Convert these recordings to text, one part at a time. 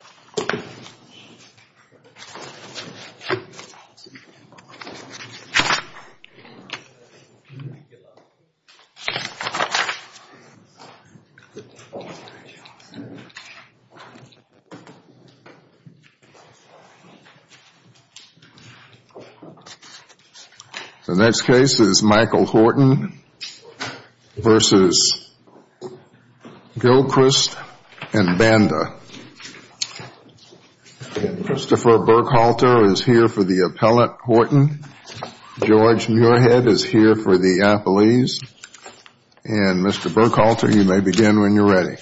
and Banda, and the next case is Michael Horton v. Gilchrist and Banda. Christopher Burkhalter is here for the appellate Horton. George Muirhead is here for the appellees. And Mr. Burkhalter, you may begin when you're ready.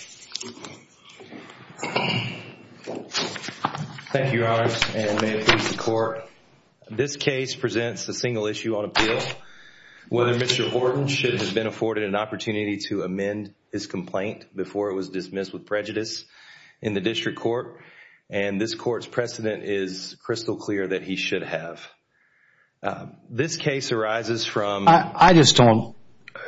Thank you, Your Honor, and may it please the Court, this case presents a single issue on appeal. Whether Mr. Horton should have been afforded an opportunity to amend his complaint before it was dismissed with prejudice in the district court. And this Court's precedent is crystal clear that he should have. This case arises from… I just don't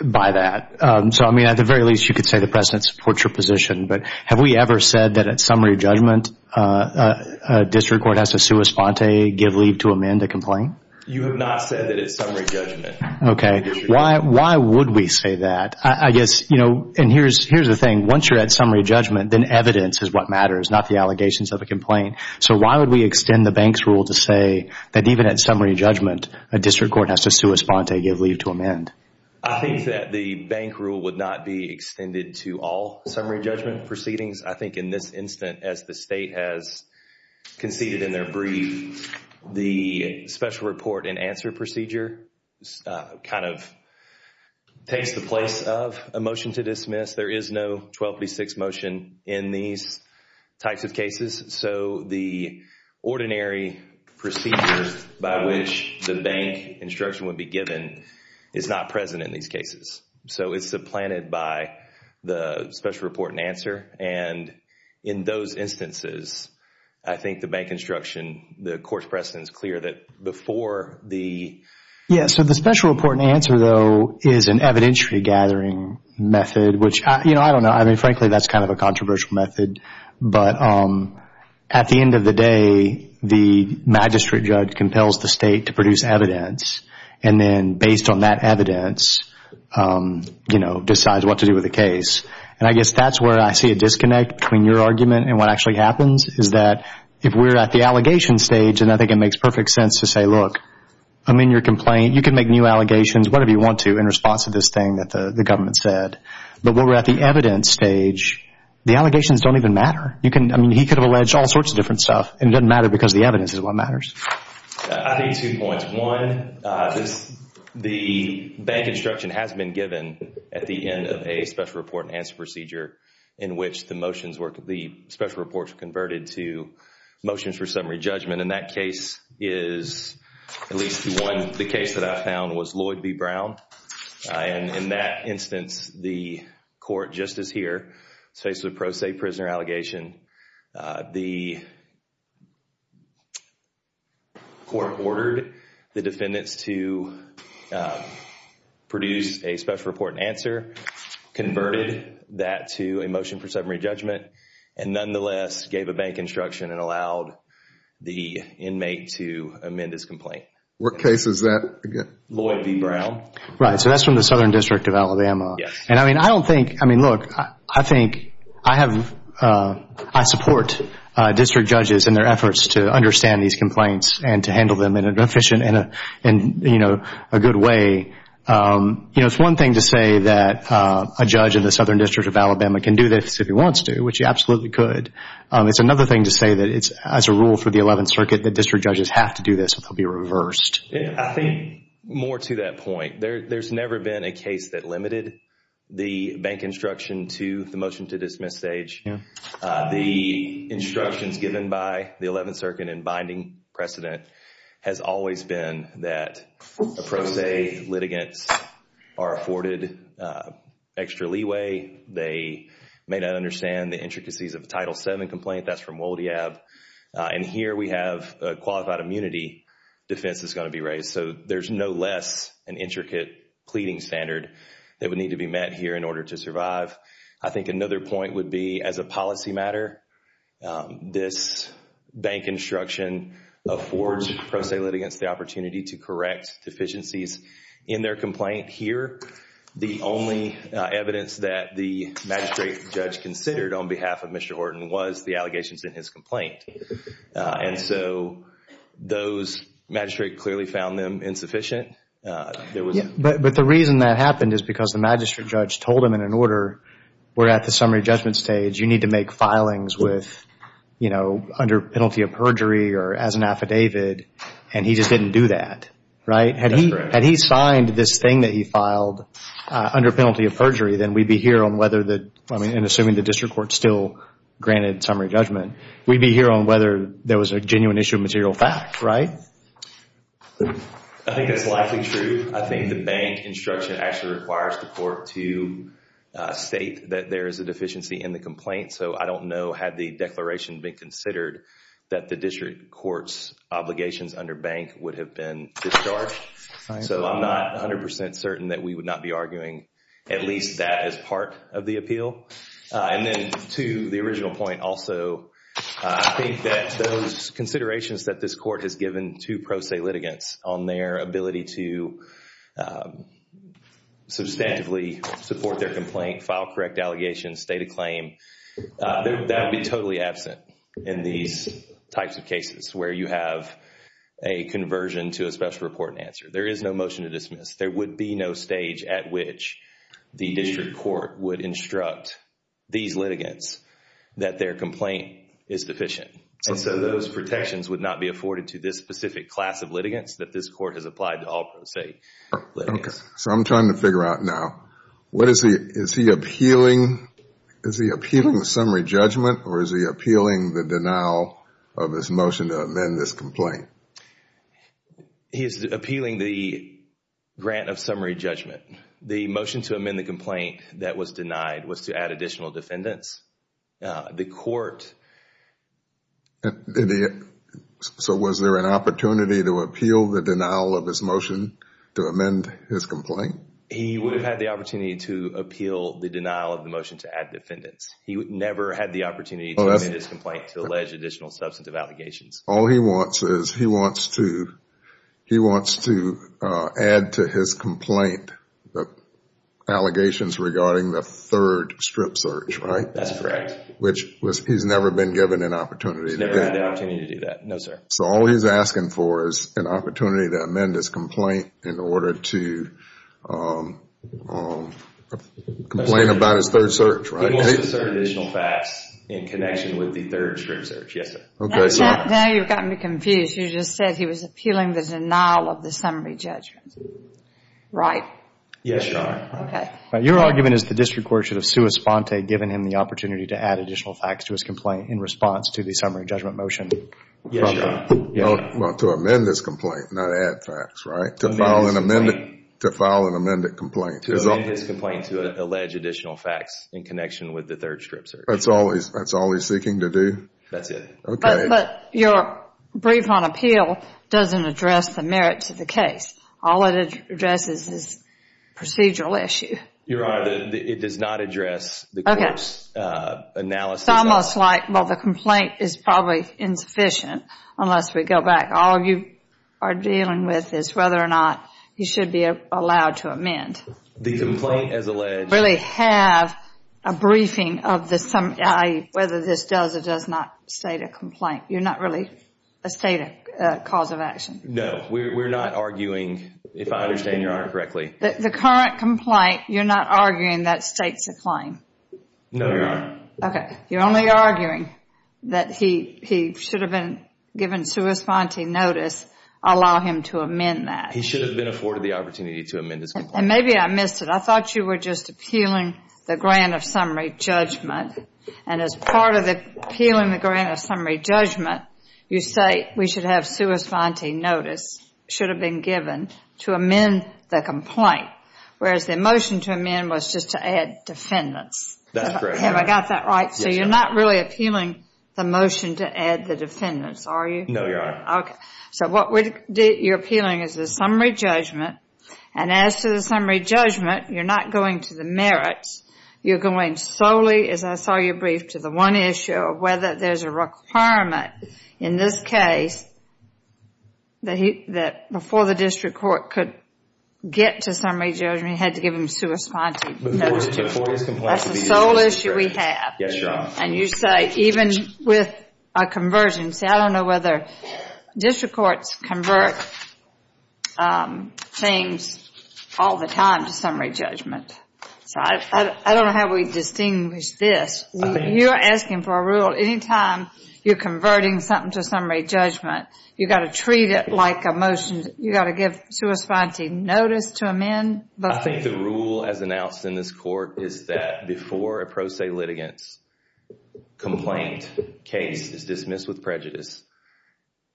buy that. So, I mean, at the very least, you could say the precedent supports your position. But have we ever said that at summary judgment, a district court has to sua sponte, give leave to amend a complaint? You have not said that it's summary judgment. Okay, why would we say that? I guess, you know, and here's the thing. Once you're at summary judgment, then evidence is what matters, not the allegations of a complaint. So why would we extend the bank's rule to say that even at summary judgment, a district court has to sua sponte, give leave to amend? I think that the bank rule would not be extended to all summary judgment proceedings. I think in this instance, as the State has conceded in their brief, the special report and answer procedure kind of takes the place of a motion to dismiss. There is no 1236 motion in these types of cases. So the ordinary procedures by which the bank instruction would be given is not present in these cases. So it's supplanted by the special report and answer. And in those instances, I think the bank instruction, the court's precedent is clear that before the… Yes, so the special report and answer, though, is an evidentiary gathering method, which, you know, I don't know. I mean, frankly, that's kind of a controversial method. But at the end of the day, the magistrate judge compels the State to produce evidence and then based on that evidence, you know, decides what to do with the case. And I guess that's where I see a disconnect between your argument and what actually happens is that if we're at the allegation stage, and I think it makes perfect sense to say, look, I'm in your complaint. You can make new allegations, whatever you want to, in response to this thing that the government said. But when we're at the evidence stage, the allegations don't even matter. I mean, he could have alleged all sorts of different stuff, and it doesn't matter because the evidence is what matters. I think two points. One, the bank instruction has been given at the end of a special report and answer procedure in which the motions were—the special reports were converted to motions for summary judgment. And that case is at least one. The case that I found was Lloyd v. Brown. And in that instance, the court, just as here, faces a pro se prisoner allegation. The court ordered the defendants to produce a special report and answer, converted that to a motion for summary judgment, and nonetheless gave a bank instruction and allowed the inmate to amend his complaint. What case is that again? Lloyd v. Brown. Right, so that's from the Southern District of Alabama. Yes. And I mean, I don't think—I mean, look, I think I have—I support district judges and their efforts to understand these complaints and to handle them in an efficient and, you know, a good way. You know, it's one thing to say that a judge in the Southern District of Alabama can do this if he wants to, which he absolutely could. It's another thing to say that it's—as a rule for the Eleventh Circuit, that district judges have to do this or they'll be reversed. I think more to that point. There's never been a case that limited the bank instruction to the motion to dismiss stage. The instructions given by the Eleventh Circuit in binding precedent has always been that a pro se litigants are afforded extra leeway. They may not understand the intricacies of a Title VII complaint. That's from Woldeab. And here we have a qualified immunity defense that's going to be raised. So there's no less an intricate pleading standard that would need to be met here in order to survive. I think another point would be as a policy matter, this bank instruction affords pro se litigants the opportunity to correct deficiencies in their complaint. Here, the only evidence that the magistrate judge considered on behalf of Mr. Horton was the allegations in his complaint. And so those—the magistrate clearly found them insufficient. But the reason that happened is because the magistrate judge told him in an order, we're at the summary judgment stage. You need to make filings with, you know, under penalty of perjury or as an affidavit. And he just didn't do that, right? Had he signed this thing that he filed under penalty of perjury, then we'd be here on whether the—assuming the district court still granted summary judgment. We'd be here on whether there was a genuine issue of material fact, right? I think that's likely true. I think the bank instruction actually requires the court to state that there is a deficiency in the complaint. So I don't know, had the declaration been considered, that the district court's obligations under bank would have been discharged. So I'm not 100 percent certain that we would not be arguing at least that as part of the appeal. And then to the original point also, I think that those considerations that this court has given to pro se litigants on their ability to substantively support their complaint, file correct allegations, state a claim, that would be totally absent in these types of cases where you have a conversion to a special report and answer. There is no motion to dismiss. There would be no stage at which the district court would instruct these litigants that their complaint is deficient. And so those protections would not be afforded to this specific class of litigants that this court has applied to all pro se litigants. So I'm trying to figure out now, what is he—is he appealing— is he appealing the summary judgment or is he appealing the denial of his motion to amend this complaint? He is appealing the grant of summary judgment. The motion to amend the complaint that was denied was to add additional defendants. The court— So was there an opportunity to appeal the denial of his motion to amend his complaint? He would have had the opportunity to appeal the denial of the motion to add defendants. He never had the opportunity to amend his complaint to allege additional substantive allegations. All he wants is—he wants to—he wants to add to his complaint the allegations regarding the third strip search, right? That's correct. Which was—he's never been given an opportunity to do that. He's never had the opportunity to do that. No, sir. So all he's asking for is an opportunity to amend his complaint in order to complain about his third search, right? He wants to assert additional facts in connection with the third strip search. Yes, sir. Now you've gotten me confused. You just said he was appealing the denial of the summary judgment, right? Yes, Your Honor. Okay. Your argument is the district court should have sui sponte given him the opportunity to add additional facts to his complaint in response to the summary judgment motion? Yes, Your Honor. Well, to amend his complaint, not add facts, right? To file an amended complaint. To amend his complaint to allege additional facts in connection with the third strip search. That's all he's seeking to do? That's it. But your brief on appeal doesn't address the merits of the case. All it addresses is procedural issue. Your Honor, it does not address the court's analysis. It's almost like, well, the complaint is probably insufficient unless we go back. All you are dealing with is whether or not he should be allowed to amend. The complaint as alleged— You're not really a state cause of action? We're not arguing, if I understand Your Honor correctly— The current complaint, you're not arguing that states a claim? No, Your Honor. Okay. You're only arguing that he should have been given sui sponte notice, allow him to amend that. He should have been afforded the opportunity to amend his complaint. And maybe I missed it. I thought you were just appealing the grant of summary judgment. And as part of appealing the grant of summary judgment, you say we should have sui sponte notice, should have been given, to amend the complaint. Whereas the motion to amend was just to add defendants. That's correct, Your Honor. Have I got that right? Yes, Your Honor. So you're not really appealing the motion to add the defendants, are you? No, Your Honor. Okay. So what you're appealing is the summary judgment. And as to the summary judgment, you're not going to the merits. You're going solely, as I saw you brief, to the one issue of whether there's a requirement in this case that before the district court could get to summary judgment, you had to give him sui sponte notice. That's the sole issue we have. Yes, Your Honor. And you say even with a conversion. See, I don't know whether district courts convert things all the time to summary judgment. So I don't know how we distinguish this. You're asking for a rule. Anytime you're converting something to summary judgment, you've got to treat it like a motion. You've got to give sui sponte notice to amend. I think the rule as announced in this court is that before a pro se litigants complaint case is dismissed with prejudice.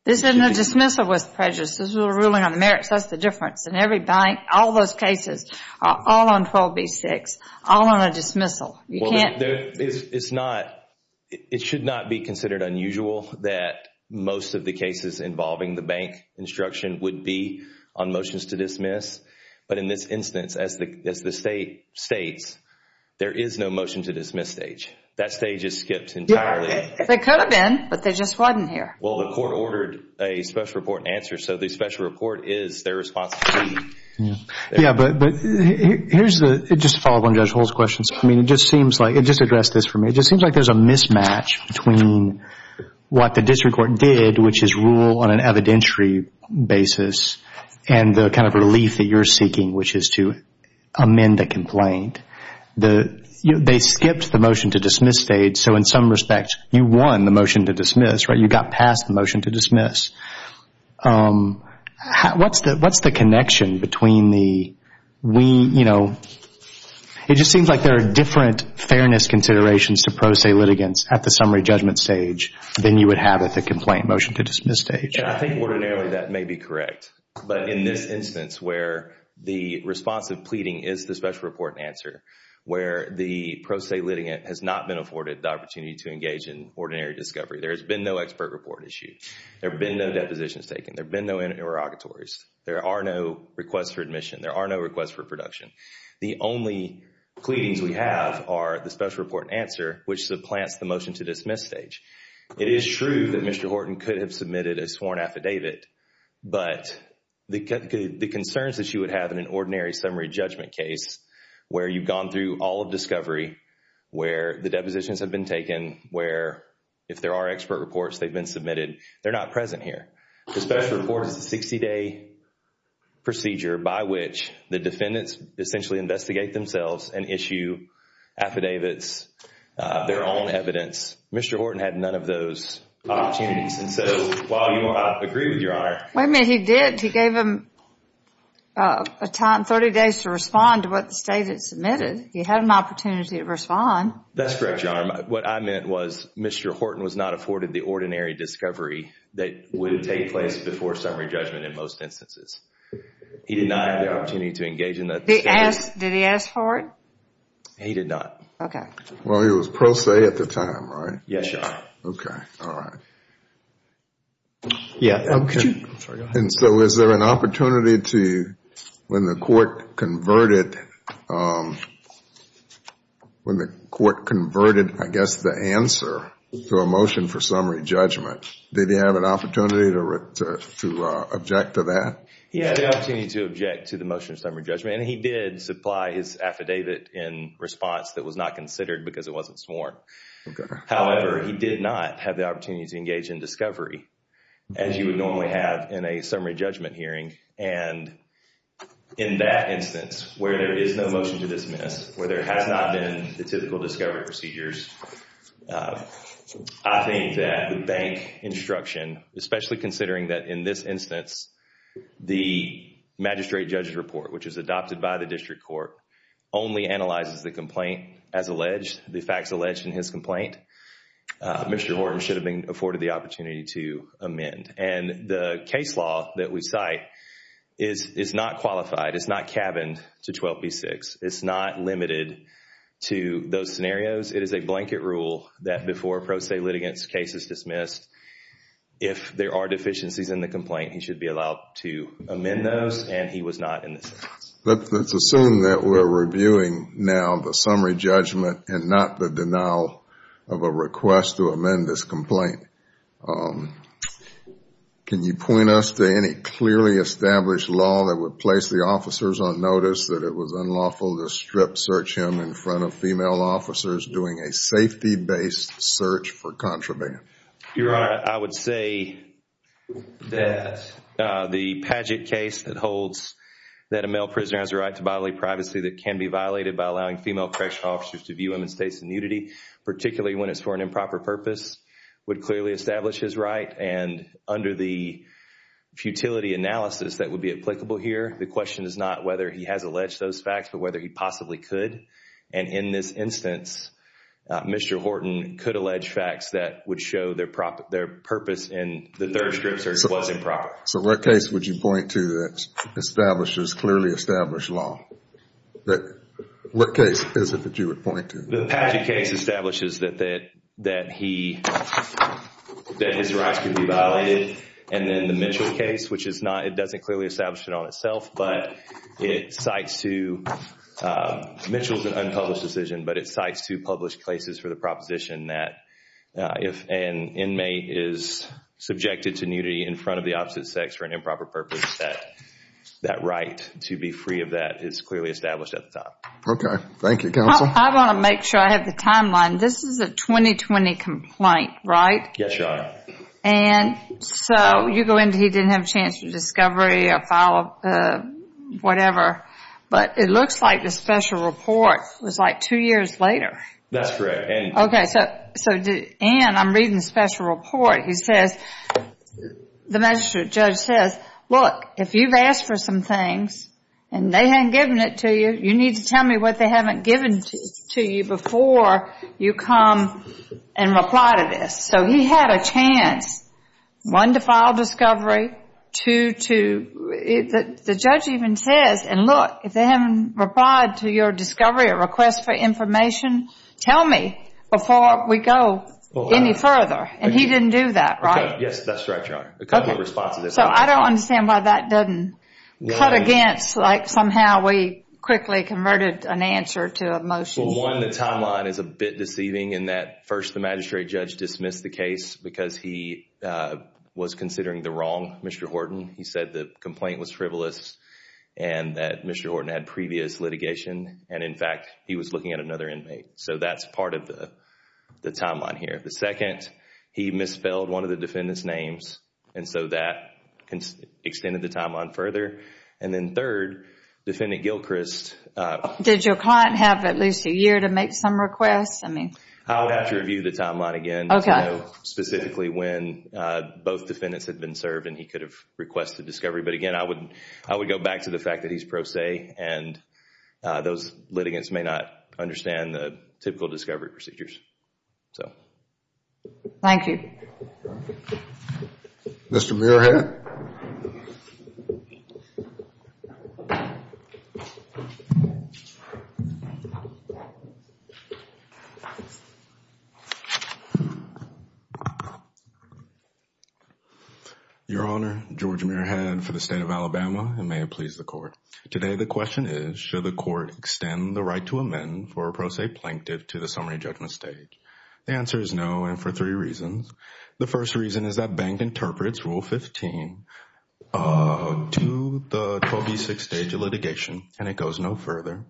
This isn't a dismissal with prejudice. This is a ruling on merits. That's the difference. In every bank, all those cases, all on 12B6, all on a dismissal. You can't. It should not be considered unusual that most of the cases involving the bank instruction would be on motions to dismiss. But in this instance, as the state states, there is no motion to dismiss stage. That stage is skipped entirely. There could have been, but they just wasn't here. Well, the court ordered a special report and answer. So the special report is their responsibility. Yeah, but here's the, just to follow up on Judge Hull's question. I mean, it just seems like, just address this for me. It just seems like there's a mismatch between what the district court did, which is rule on an evidentiary basis, and the kind of relief that you're seeking, which is to amend the complaint. They skipped the motion to dismiss stage. So in some respects, you won the motion to dismiss. You got past the motion to dismiss. What's the connection between the, we, you know, it just seems like there are different fairness considerations to pro se litigants at the summary judgment stage than you would have at the complaint motion to dismiss stage. I think ordinarily that may be correct. But in this instance where the responsive pleading is the special report and answer, where the pro se litigant has not been afforded the opportunity to engage in ordinary discovery, there has been no expert report issued. There have been no depositions taken. There have been no interrogatories. There are no requests for admission. There are no requests for production. The only pleadings we have are the special report and answer, which supplants the motion to dismiss stage. It is true that Mr. Horton could have submitted a sworn affidavit, but the concerns that you would have in an ordinary summary judgment case where you've gone through all of discovery, where the depositions have been taken, where if there are expert reports they've been submitted, they're not present here. The special report is a 60-day procedure by which the defendants essentially investigate themselves and issue affidavits, their own evidence. Mr. Horton had none of those opportunities. And so while you agree with Your Honor. Wait a minute, he did. He gave him a time, 30 days, to respond to what the state had submitted. He had an opportunity to respond. That's correct, Your Honor. What I meant was Mr. Horton was not afforded the ordinary discovery that would take place before summary judgment in most instances. He did not have the opportunity to engage in that discovery. Did he ask for it? He did not. Okay. Well, he was pro se at the time, right? Yes, Your Honor. Okay, all right. Yeah. And so is there an opportunity to, when the court converted, when the court converted, I guess, the answer to a motion for summary judgment, did he have an opportunity to object to that? He had the opportunity to object to the motion for summary judgment, and he did supply his affidavit in response that was not considered because it wasn't sworn. However, he did not have the opportunity to engage in discovery, as you would normally have in a summary judgment hearing. And in that instance, where there is no motion to dismiss, where there has not been the typical discovery procedures, I think that the bank instruction, especially considering that in this instance the magistrate judge's report, which was adopted by the district court, only analyzes the complaint as alleged, the facts alleged in his complaint, Mr. Horne should have been afforded the opportunity to amend. And the case law that we cite is not qualified. It's not cabined to 12B6. It's not limited to those scenarios. It is a blanket rule that before a pro se litigant's case is dismissed, if there are deficiencies in the complaint, he should be allowed to amend those, and he was not in this instance. Let's assume that we're reviewing now the summary judgment and not the denial of a request to amend this complaint. Can you point us to any clearly established law that would place the officers on notice that it was unlawful to strip search him in front of female officers doing a safety-based search for contraband? Your Honor, I would say that the Padgett case that holds that a male prisoner has a right to bodily privacy that can be violated by allowing female correctional officers to view him in states of nudity, particularly when it's for an improper purpose, would clearly establish his right. And under the futility analysis that would be applicable here, the question is not whether he has alleged those facts, but whether he possibly could. And in this instance, Mr. Horton could allege facts that would show their purpose in the third strip search was improper. So what case would you point to that establishes clearly established law? What case is it that you would point to? The Padgett case establishes that his rights could be violated. And then the Mitchell case, which is not, it doesn't clearly establish it on itself, but it cites to, Mitchell's an unpublished decision, but it cites two published cases for the proposition that if an inmate is subjected to nudity in front of the opposite sex for an improper purpose, that that right to be free of that is clearly established at the time. Thank you, Counsel. I want to make sure I have the timeline. This is a 2020 complaint, right? Yes, Your Honor. And so you go into he didn't have a chance for discovery, a file, whatever. But it looks like the special report was like two years later. That's correct. Okay. So Ann, I'm reading the special report. He says, the magistrate judge says, look, if you've asked for some things and they haven't given it to you, you need to tell me what they haven't given to you before you come and reply to this. So he had a chance, one, to file discovery, two, to, the judge even says, and look, if they haven't replied to your discovery or request for information, tell me before we go any further. And he didn't do that, right? Yes, that's correct, Your Honor. So I don't understand why that doesn't cut against, like somehow we quickly converted an answer to a motion. Well, one, the timeline is a bit deceiving in that first the magistrate judge dismissed the case because he was considering the wrong Mr. Horton. He said the complaint was frivolous and that Mr. Horton had previous litigation. And, in fact, he was looking at another inmate. So that's part of the timeline here. The second, he misspelled one of the defendant's names, and so that extended the timeline further. And then third, Defendant Gilchrist. Did your client have at least a year to make some requests? I would have to review the timeline again, specifically when both defendants had been served and he could have requested discovery. But, again, I would go back to the fact that he's pro se and those litigants may not understand the typical discovery procedures. Thank you. Mr. Muirhead. Your Honor, George Muirhead for the State of Alabama, and may it please the Court. Today the question is, should the Court extend the right to amend for a pro se plaintiff to the summary judgment stage? The answer is no, and for three reasons. The first reason is that Bank interprets Rule 15 to the 12B6 stage of litigation, and it goes no further.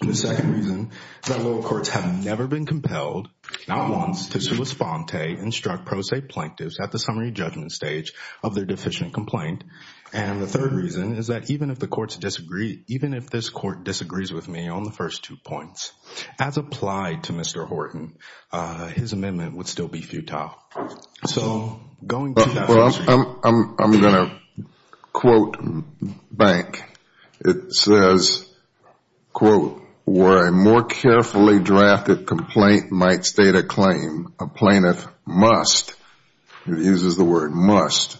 The second reason is that lower courts have never been compelled, not once, to sua sponte instruct pro se plaintiffs at the summary judgment stage of their deficient complaint. And the third reason is that even if this Court disagrees with me on the first two points, as applied to Mr. Horton, his amendment would still be futile. I'm going to quote Bank. It says, quote, where a more carefully drafted complaint might state a claim, a plaintiff must, it uses the word must,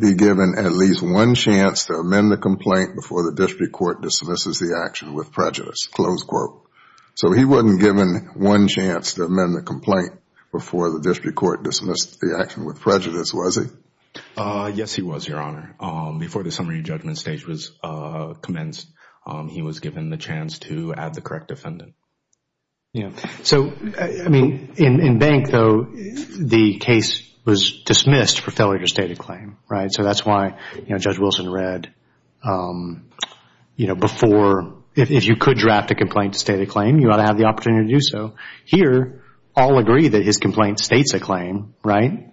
be given at least one chance to amend the complaint before the district court dismisses the action with prejudice, close quote. So he wasn't given one chance to amend the complaint before the district court dismissed the action with prejudice, was he? Yes, he was, Your Honor. Before the summary judgment stage was commenced, he was given the chance to add the correct defendant. Yeah. So, I mean, in Bank, though, the case was dismissed for failure to state a claim, right? So that's why, you know, Judge Wilson read, you know, before if you could draft a complaint to state a claim, you ought to have the opportunity to do so. Here, all agree that his complaint states a claim, right?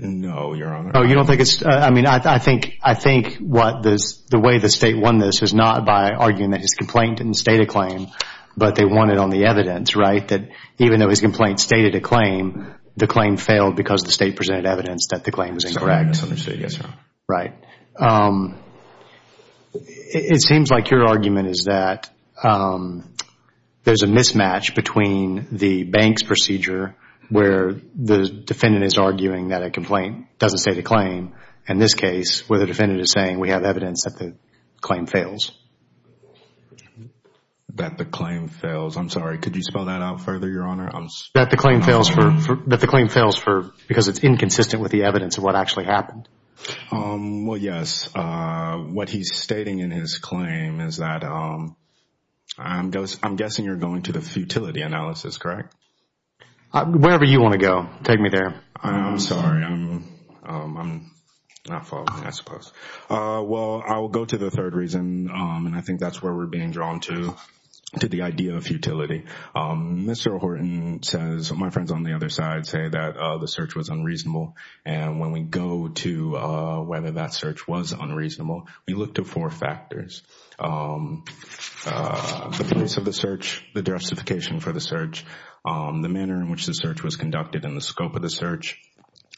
No, Your Honor. Oh, you don't think it's, I mean, I think, I think the way the State won this is not by arguing that his complaint didn't state a claim, but they won it on the evidence, right? That even though his complaint stated a claim, the claim failed because the State presented evidence that the claim was incorrect. Yes, Your Honor. Right. It seems like your argument is that there's a mismatch between the Bank's procedure where the defendant is arguing that a complaint doesn't state a claim, and this case where the defendant is saying we have evidence that the claim fails. That the claim fails. I'm sorry, could you spell that out further, Your Honor? That the claim fails because it's inconsistent with the evidence of what actually happened. Well, yes. What he's stating in his claim is that I'm guessing you're going to the futility analysis, correct? Wherever you want to go. Take me there. I'm sorry. I'm not following, I suppose. Well, I will go to the third reason, and I think that's where we're being drawn to, to the idea of futility. Mr. Horton says, my friends on the other side say that the search was unreasonable, and when we go to whether that search was unreasonable, we look to four factors. The place of the search, the justification for the search, the manner in which the search was conducted, and the scope of the search.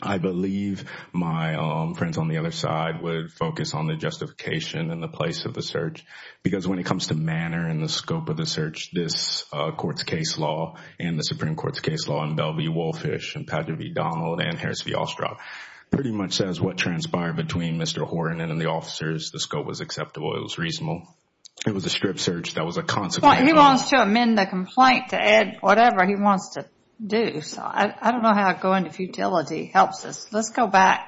I believe my friends on the other side would focus on the justification and the place of the search, because when it comes to manner and the scope of the search, this court's case law and the Supreme Court's case law, and Bell v. Wohlfisch and Padre v. Donald and Harris v. Ostroff, pretty much says what transpired between Mr. Horton and the officers. The scope was acceptable. It was reasonable. It was a strip search that was a consequence. He wants to amend the complaint to add whatever he wants to do. So I don't know how going to futility helps us. Let's go back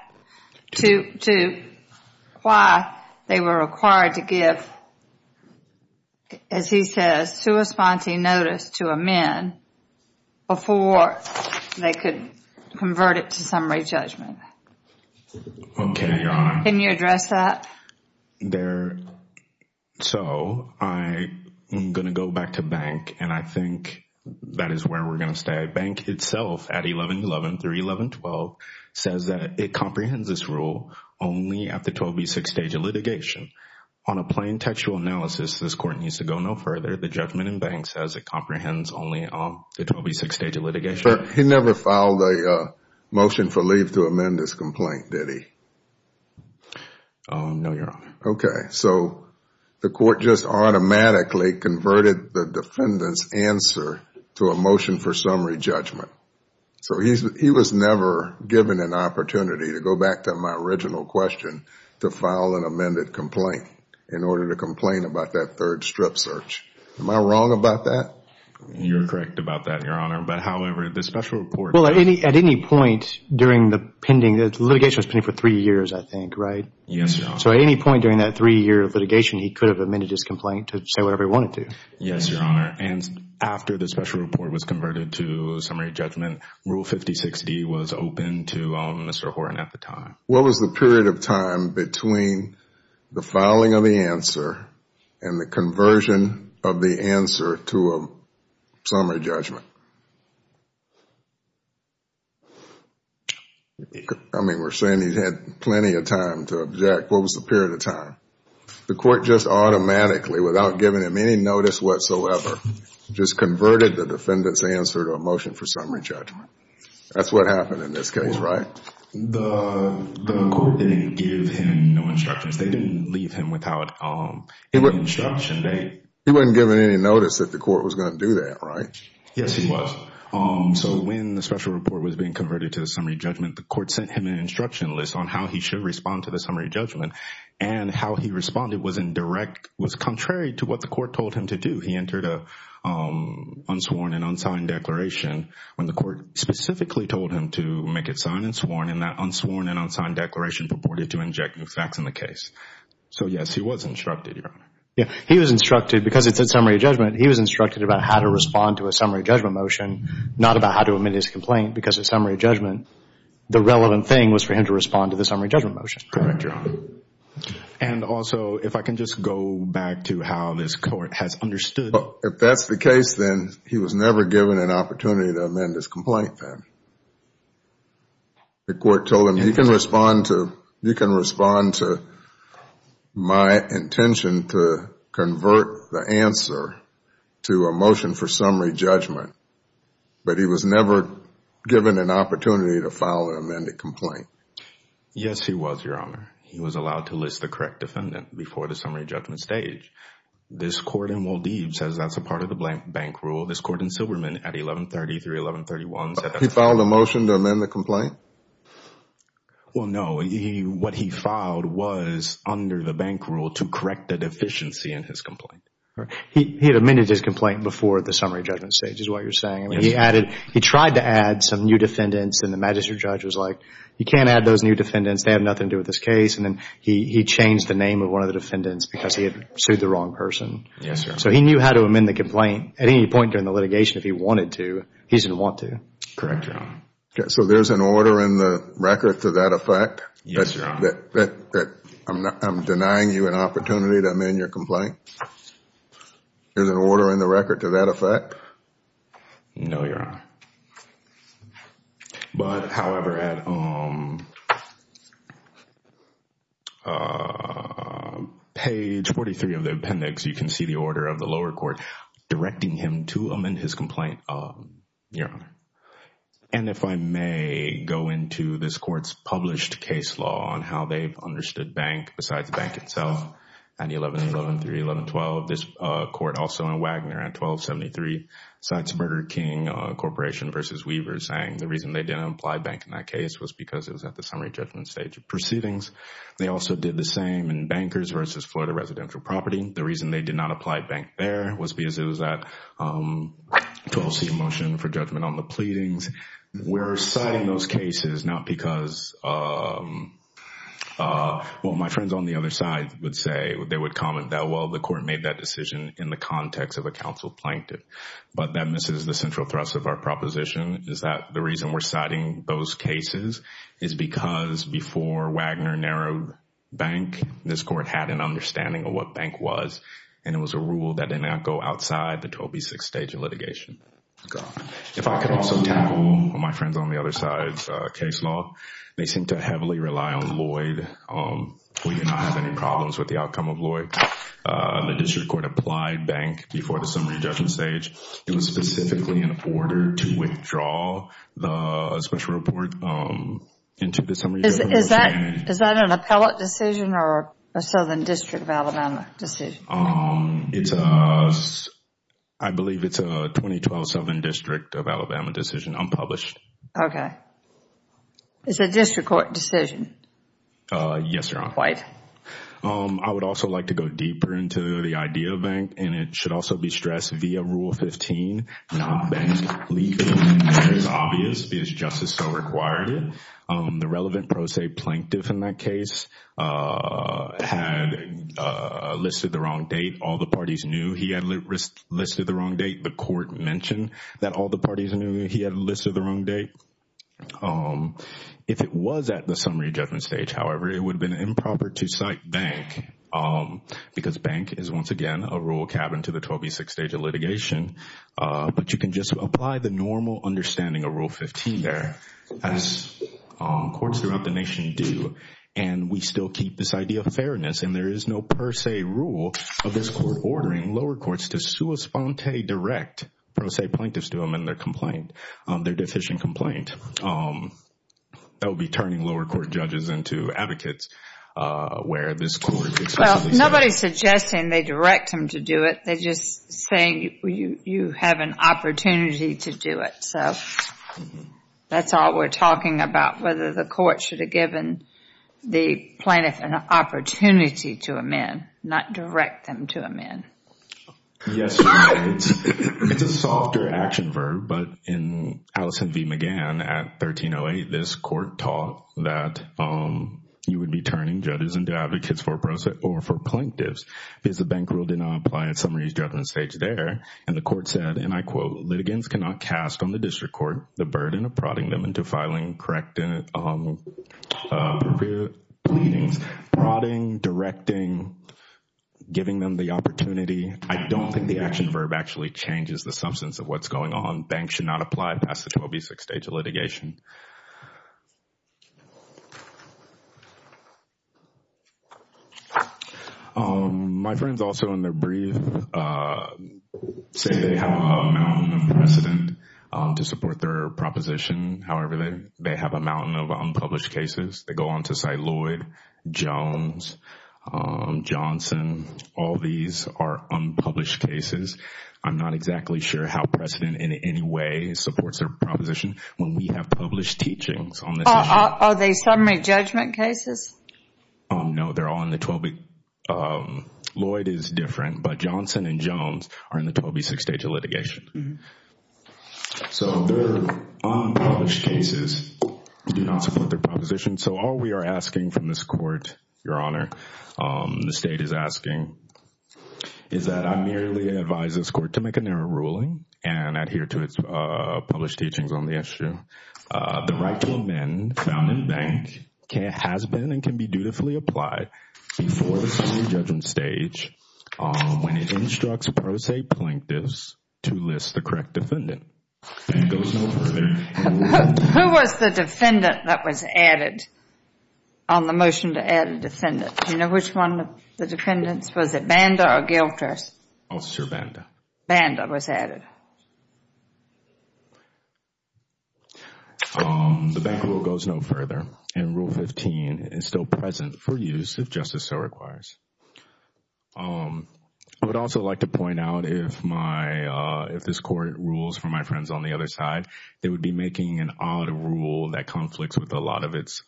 to why they were required to give, as he says, sua sponte notice to amend before they could convert it to summary judgment. Okay, Your Honor. Can you address that? So I am going to go back to Bank, and I think that is where we're going to stay. Bank itself at 1111 through 1112 says that it comprehends this rule only at the 12B6 stage of litigation. On a plain textual analysis, this court needs to go no further. The judgment in Bank says it comprehends only the 12B6 stage of litigation. He never filed a motion for leave to amend this complaint, did he? No, Your Honor. Okay. So the court just automatically converted the defendant's answer to a motion for summary judgment. So he was never given an opportunity, to go back to my original question, to file an amended complaint in order to complain about that third strip search. Am I wrong about that? You are correct about that, Your Honor. But, however, the special report Well, at any point during the pending, the litigation was pending for three years, I think, right? Yes, Your Honor. So at any point during that three-year litigation, he could have amended his complaint to say whatever he wanted to. Yes, Your Honor. And after the special report was converted to summary judgment, Rule 5060 was open to Mr. Horan at the time. What was the period of time between the filing of the answer and the conversion of the answer to a summary judgment? I mean, we're saying he had plenty of time to object. What was the period of time? The court just automatically, without giving him any notice whatsoever, just converted the defendant's answer to a motion for summary judgment. That's what happened in this case, right? The court didn't give him no instructions. They didn't leave him without instruction. He wasn't given any notice that the court was going to do that, right? Yes, Your Honor. Yes, he was. So when the special report was being converted to the summary judgment, the court sent him an instruction list on how he should respond to the summary judgment, and how he responded was in direct, was contrary to what the court told him to do. He entered an unsworn and unsigned declaration when the court specifically told him to make it signed and sworn, and that unsworn and unsigned declaration purported to inject new facts in the case. So, yes, he was instructed, Your Honor. Yes, he was instructed because it's a summary judgment. He was instructed about how to respond to a summary judgment motion, not about how to amend his complaint because it's a summary judgment. The relevant thing was for him to respond to the summary judgment motion. Correct, Your Honor. And also, if I can just go back to how this court has understood. If that's the case, then he was never given an opportunity to amend his complaint then. The court told him he can respond to my intention to convert the answer to a motion for summary judgment, but he was never given an opportunity to file an amended complaint. Yes, he was, Your Honor. He was allowed to list the correct defendant before the summary judgment stage. This court in Maldives says that's a part of the blank bank rule. This court in Silberman at 1133, 1131 said that's a part of the blank bank rule. He filed a motion to amend the complaint? Well, no. What he filed was under the bank rule to correct the deficiency in his complaint. He had amended his complaint before the summary judgment stage is what you're saying. Yes. I mean, he added, he tried to add some new defendants and the magistrate judge was like, you can't add those new defendants. They have nothing to do with this case. And then he changed the name of one of the defendants because he had sued the wrong person. Yes, Your Honor. So he knew how to amend the complaint. At any point during the litigation, if he wanted to, he didn't want to. Correct, Your Honor. So there's an order in the record to that effect? Yes, Your Honor. That I'm denying you an opportunity to amend your complaint? There's an order in the record to that effect? No, Your Honor. But, however, at page 43 of the appendix, you can see the order of the lower court directing him to amend his complaint, Your Honor. And if I may go into this court's published case law on how they've understood bank, besides the bank itself, at 11-11-3, 11-12, this court also in Wagner at 12-73, cites Murder King Corporation v. Weavers saying the reason they didn't apply bank in that case was because it was at the summary judgment stage of proceedings. They also did the same in Bankers v. Florida Residential Property. The reason they did not apply bank there was because it was at 12C motion for judgment on the pleadings. We're citing those cases not because, well, my friends on the other side would say, they would comment that, well, the court made that decision in the context of a counsel plaintiff. But that misses the central thrust of our proposition is that the reason we're citing those cases is because before Wagner narrowed bank, this court had an understanding of what bank was, and it was a rule that did not go outside the 12B6 stage of litigation. If I could also tackle my friends on the other side's case law, they seem to heavily rely on Lloyd. We do not have any problems with the outcome of Lloyd. The district court applied bank before the summary judgment stage. It was specifically in order to withdraw the special report into the summary judgment stage. Is that an appellate decision or a Southern District of Alabama decision? I believe it's a 2012 Southern District of Alabama decision, unpublished. Okay. It's a district court decision? Yes, Your Honor. Wait. I would also like to go deeper into the idea of bank, and it should also be stressed via Rule 15, not bank legally. It's obvious because justice so required it. The relevant pro se plaintiff in that case had listed the wrong date. All the parties knew he had listed the wrong date. The court mentioned that all the parties knew he had listed the wrong date. If it was at the summary judgment stage, however, it would have been improper to cite bank because bank is, once again, a rule cabin to the 12B6 stage of litigation. But you can just apply the normal understanding of Rule 15 there, as courts throughout the nation do, and we still keep this idea of fairness, and there is no per se rule of this court ordering lower courts to sui sponte direct pro se plaintiffs to amend their deficient complaint. That would be turning lower court judges into advocates where this court explicitly says. Well, nobody is suggesting they direct them to do it. They're just saying you have an opportunity to do it. So that's all we're talking about, whether the court should have given the plaintiff an opportunity to amend, not direct them to amend. Yes, it's a softer action verb, but in Allison v. McGann at 1308, this court taught that you would be turning judges into advocates for pro se or for plaintiffs because the bank rule did not apply at summary judgment stage there. And the court said, and I quote, litigants cannot cast on the district court the burden of prodding them to filing corrective pleadings, prodding, directing, giving them the opportunity. I don't think the action verb actually changes the substance of what's going on. Banks should not apply past the 12B6 stage of litigation. My friends also in their brief say they have a mountain of precedent to support their proposition. However, they have a mountain of unpublished cases. They go on to cite Lloyd, Jones, Johnson. All these are unpublished cases. I'm not exactly sure how precedent in any way supports their proposition. When we have published teachings on this issue. Are they summary judgment cases? No, they're all in the 12B. Lloyd is different, but Johnson and Jones are in the 12B6 stage of litigation. So their unpublished cases do not support their proposition. So all we are asking from this court, Your Honor, the state is asking, is that I merely advise this court to make a narrow ruling and adhere to its published teachings on the issue. The right to amend found in bank has been and can be dutifully applied before the summary judgment stage when it instructs pro se plaintiffs to list the correct defendant. Bank goes no further. Who was the defendant that was added on the motion to add a defendant? Do you know which one of the defendants? Was it Banda or Guilters? I'll say Banda. Banda was added. The bank rule goes no further. And Rule 15 is still present for use if justice so requires. I would also like to point out if this court rules for my friends on the other side, they would be making an odd rule that conflicts with a lot of its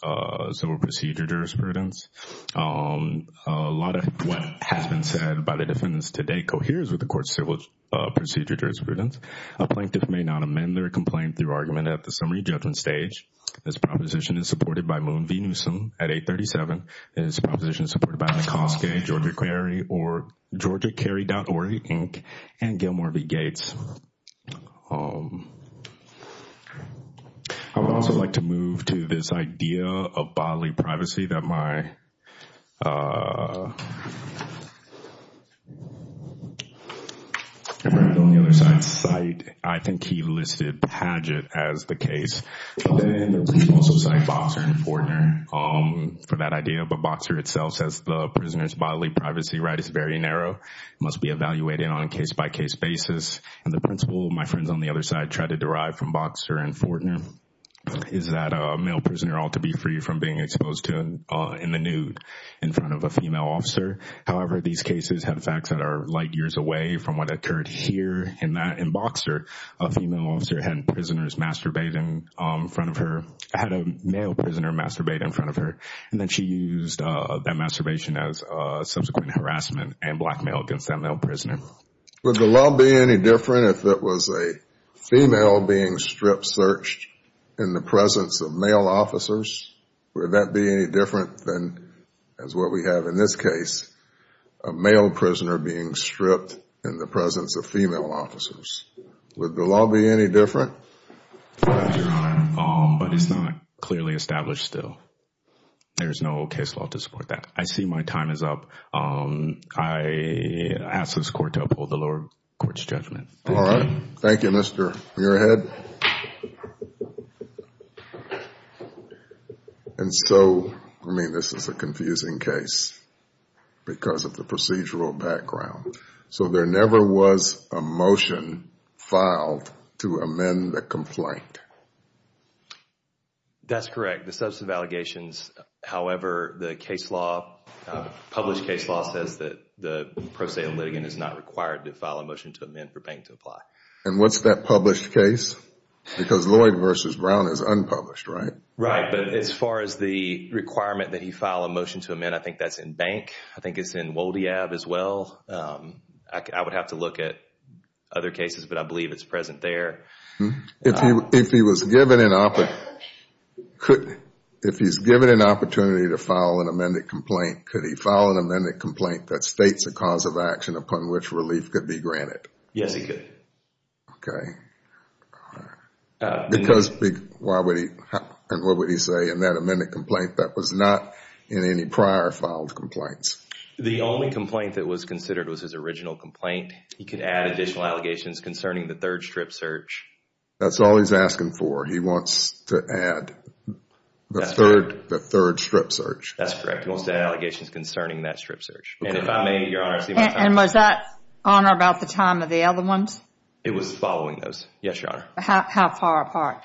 civil procedure jurisprudence. A lot of what has been said by the defendants today coheres with the court's civil procedure jurisprudence. A plaintiff may not amend their complaint through argument at the summary judgment stage. This proposition is supported by Moon v. Newsom at 837. This proposition is supported by McCoskey, Georgia Carey, or GeorgiaCarey.org, Inc., and Gilmore v. Gates. I would also like to move to this idea of bodily privacy that my friend on the other side cited. I think he listed Padgett as the case. He also cited Boxer and Fortner for that idea. But Boxer itself says the prisoner's bodily privacy right is very narrow. It must be evaluated on a case-by-case basis. And the principle my friends on the other side try to derive from Boxer and Fortner is that a male prisoner ought to be free from being exposed in the nude in front of a female officer. However, these cases have facts that are light years away from what occurred here. In Boxer, a female officer had a male prisoner masturbate in front of her. And then she used that masturbation as subsequent harassment and blackmail against that male prisoner. Would the law be any different if it was a female being strip searched in the presence of male officers? Would that be any different than what we have in this case, a male prisoner being stripped in the presence of female officers? Would the law be any different? Your Honor, but it's not clearly established still. There's no case law to support that. I see my time is up. I ask this court to uphold the lower court's judgment. All right. Thank you, Mr. Muirhead. And so, I mean, this is a confusing case because of the procedural background. So there never was a motion filed to amend the complaint? That's correct. The substantive allegations, however, the case law, published case law, says that the pro se litigant is not required to file a motion to amend for bank to apply. And what's that published case? Because Lloyd v. Brown is unpublished, right? Right. But as far as the requirement that he file a motion to amend, I think that's in bank. I think it's in Woldeab as well. I would have to look at other cases, but I believe it's present there. If he was given an opportunity to file an amended complaint, could he file an amended complaint that states a cause of action upon which relief could be granted? Yes, he could. Okay. Because why would he, and what would he say in that amended complaint that was not in any prior filed complaints? The only complaint that was considered was his original complaint. He could add additional allegations concerning the third strip search. That's all he's asking for. He wants to add the third strip search. That's correct. He wants to add allegations concerning that strip search. And if I may, Your Honor, see if I have time. And was that on or about the time of the other ones? It was following those. Yes, Your Honor. How far apart?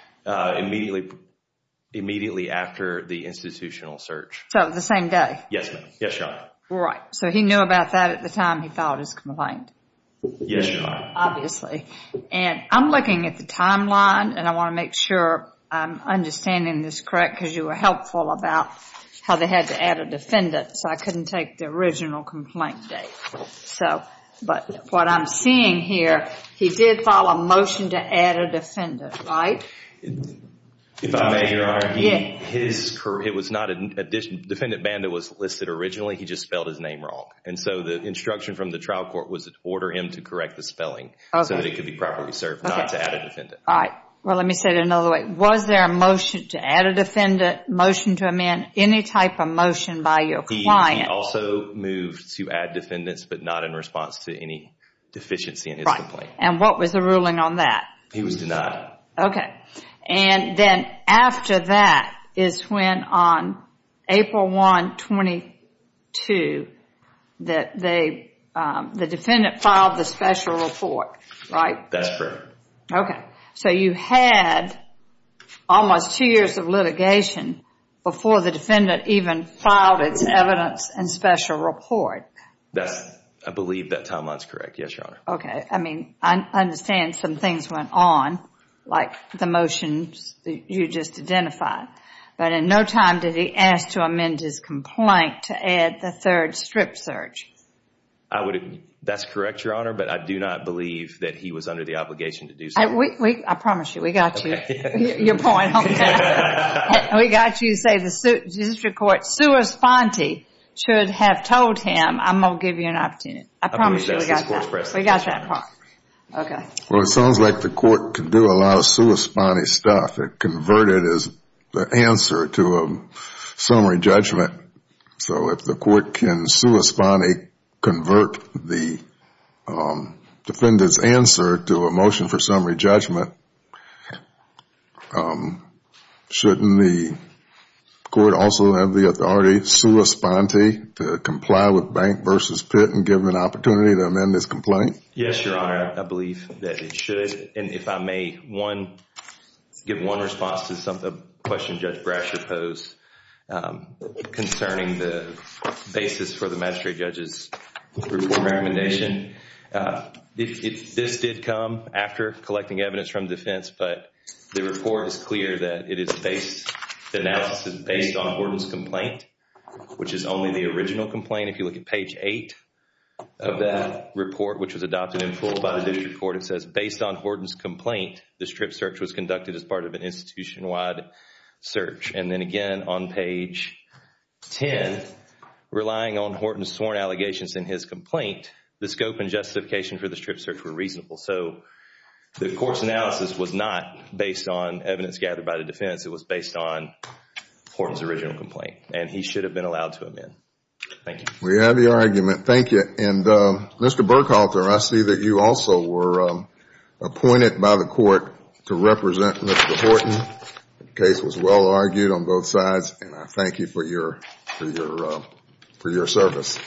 Immediately after the institutional search. So the same day? Yes, ma'am. Yes, Your Honor. Right. So he knew about that at the time he filed his complaint. Yes, Your Honor. Obviously. And I'm looking at the timeline, and I want to make sure I'm understanding this correct because you were helpful about how they had to add a defendant, so I couldn't take the original complaint date. But what I'm seeing here, he did file a motion to add a defendant, right? If I may, Your Honor. Yes. It was not an addition. Defendant Banda was listed originally. He just spelled his name wrong. And so the instruction from the trial court was to order him to correct the spelling so that it could be properly served, not to add a defendant. All right. Well, let me say it another way. Was there a motion to add a defendant, motion to amend, any type of motion by your client? He also moved to add defendants but not in response to any deficiency in his complaint. Right. And what was the ruling on that? He was denied. Okay. And then after that is when on April 1, 22, that the defendant filed the special report, right? That's correct. Okay. So you had almost two years of litigation before the defendant even filed its evidence and special report. I believe that timeline is correct. Yes, Your Honor. Okay. I mean, I understand some things went on, like the motions you just identified. But in no time did he ask to amend his complaint to add the third strip search. That's correct, Your Honor, but I do not believe that he was under the obligation to do so. I promise you, we got you. Your point, okay. We got you to say the district court, sua sponte, should have told him, I'm going to give you an opportunity. I promise you we got that. We got that part. Okay. Well, it sounds like the court could do a lot of sua sponte stuff. It converted the answer to a summary judgment. So if the court can sua sponte convert the defendant's answer to a motion for summary judgment, shouldn't the court also have the authority sua sponte to comply with Bank v. Pitt and give him an opportunity to amend his complaint? Yes, Your Honor. I believe that it should. And if I may give one response to a question Judge Brasher posed concerning the basis for the magistrate judge's report recommendation. This did come after collecting evidence from defense, but the report is clear that it is based, the analysis is based on Horton's complaint, which is only the original complaint. Again, if you look at page 8 of that report, which was adopted in full by the district court, it says based on Horton's complaint, the strip search was conducted as part of an institution-wide search. And then again on page 10, relying on Horton's sworn allegations in his complaint, the scope and justification for the strip search were reasonable. So the court's analysis was not based on evidence gathered by the defense. It was based on Horton's original complaint, and he should have been allowed to amend. Thank you. We have your argument. Thank you. And Mr. Burkhalter, I see that you also were appointed by the court to represent Mr. Horton. The case was well argued on both sides, and I thank you for your service.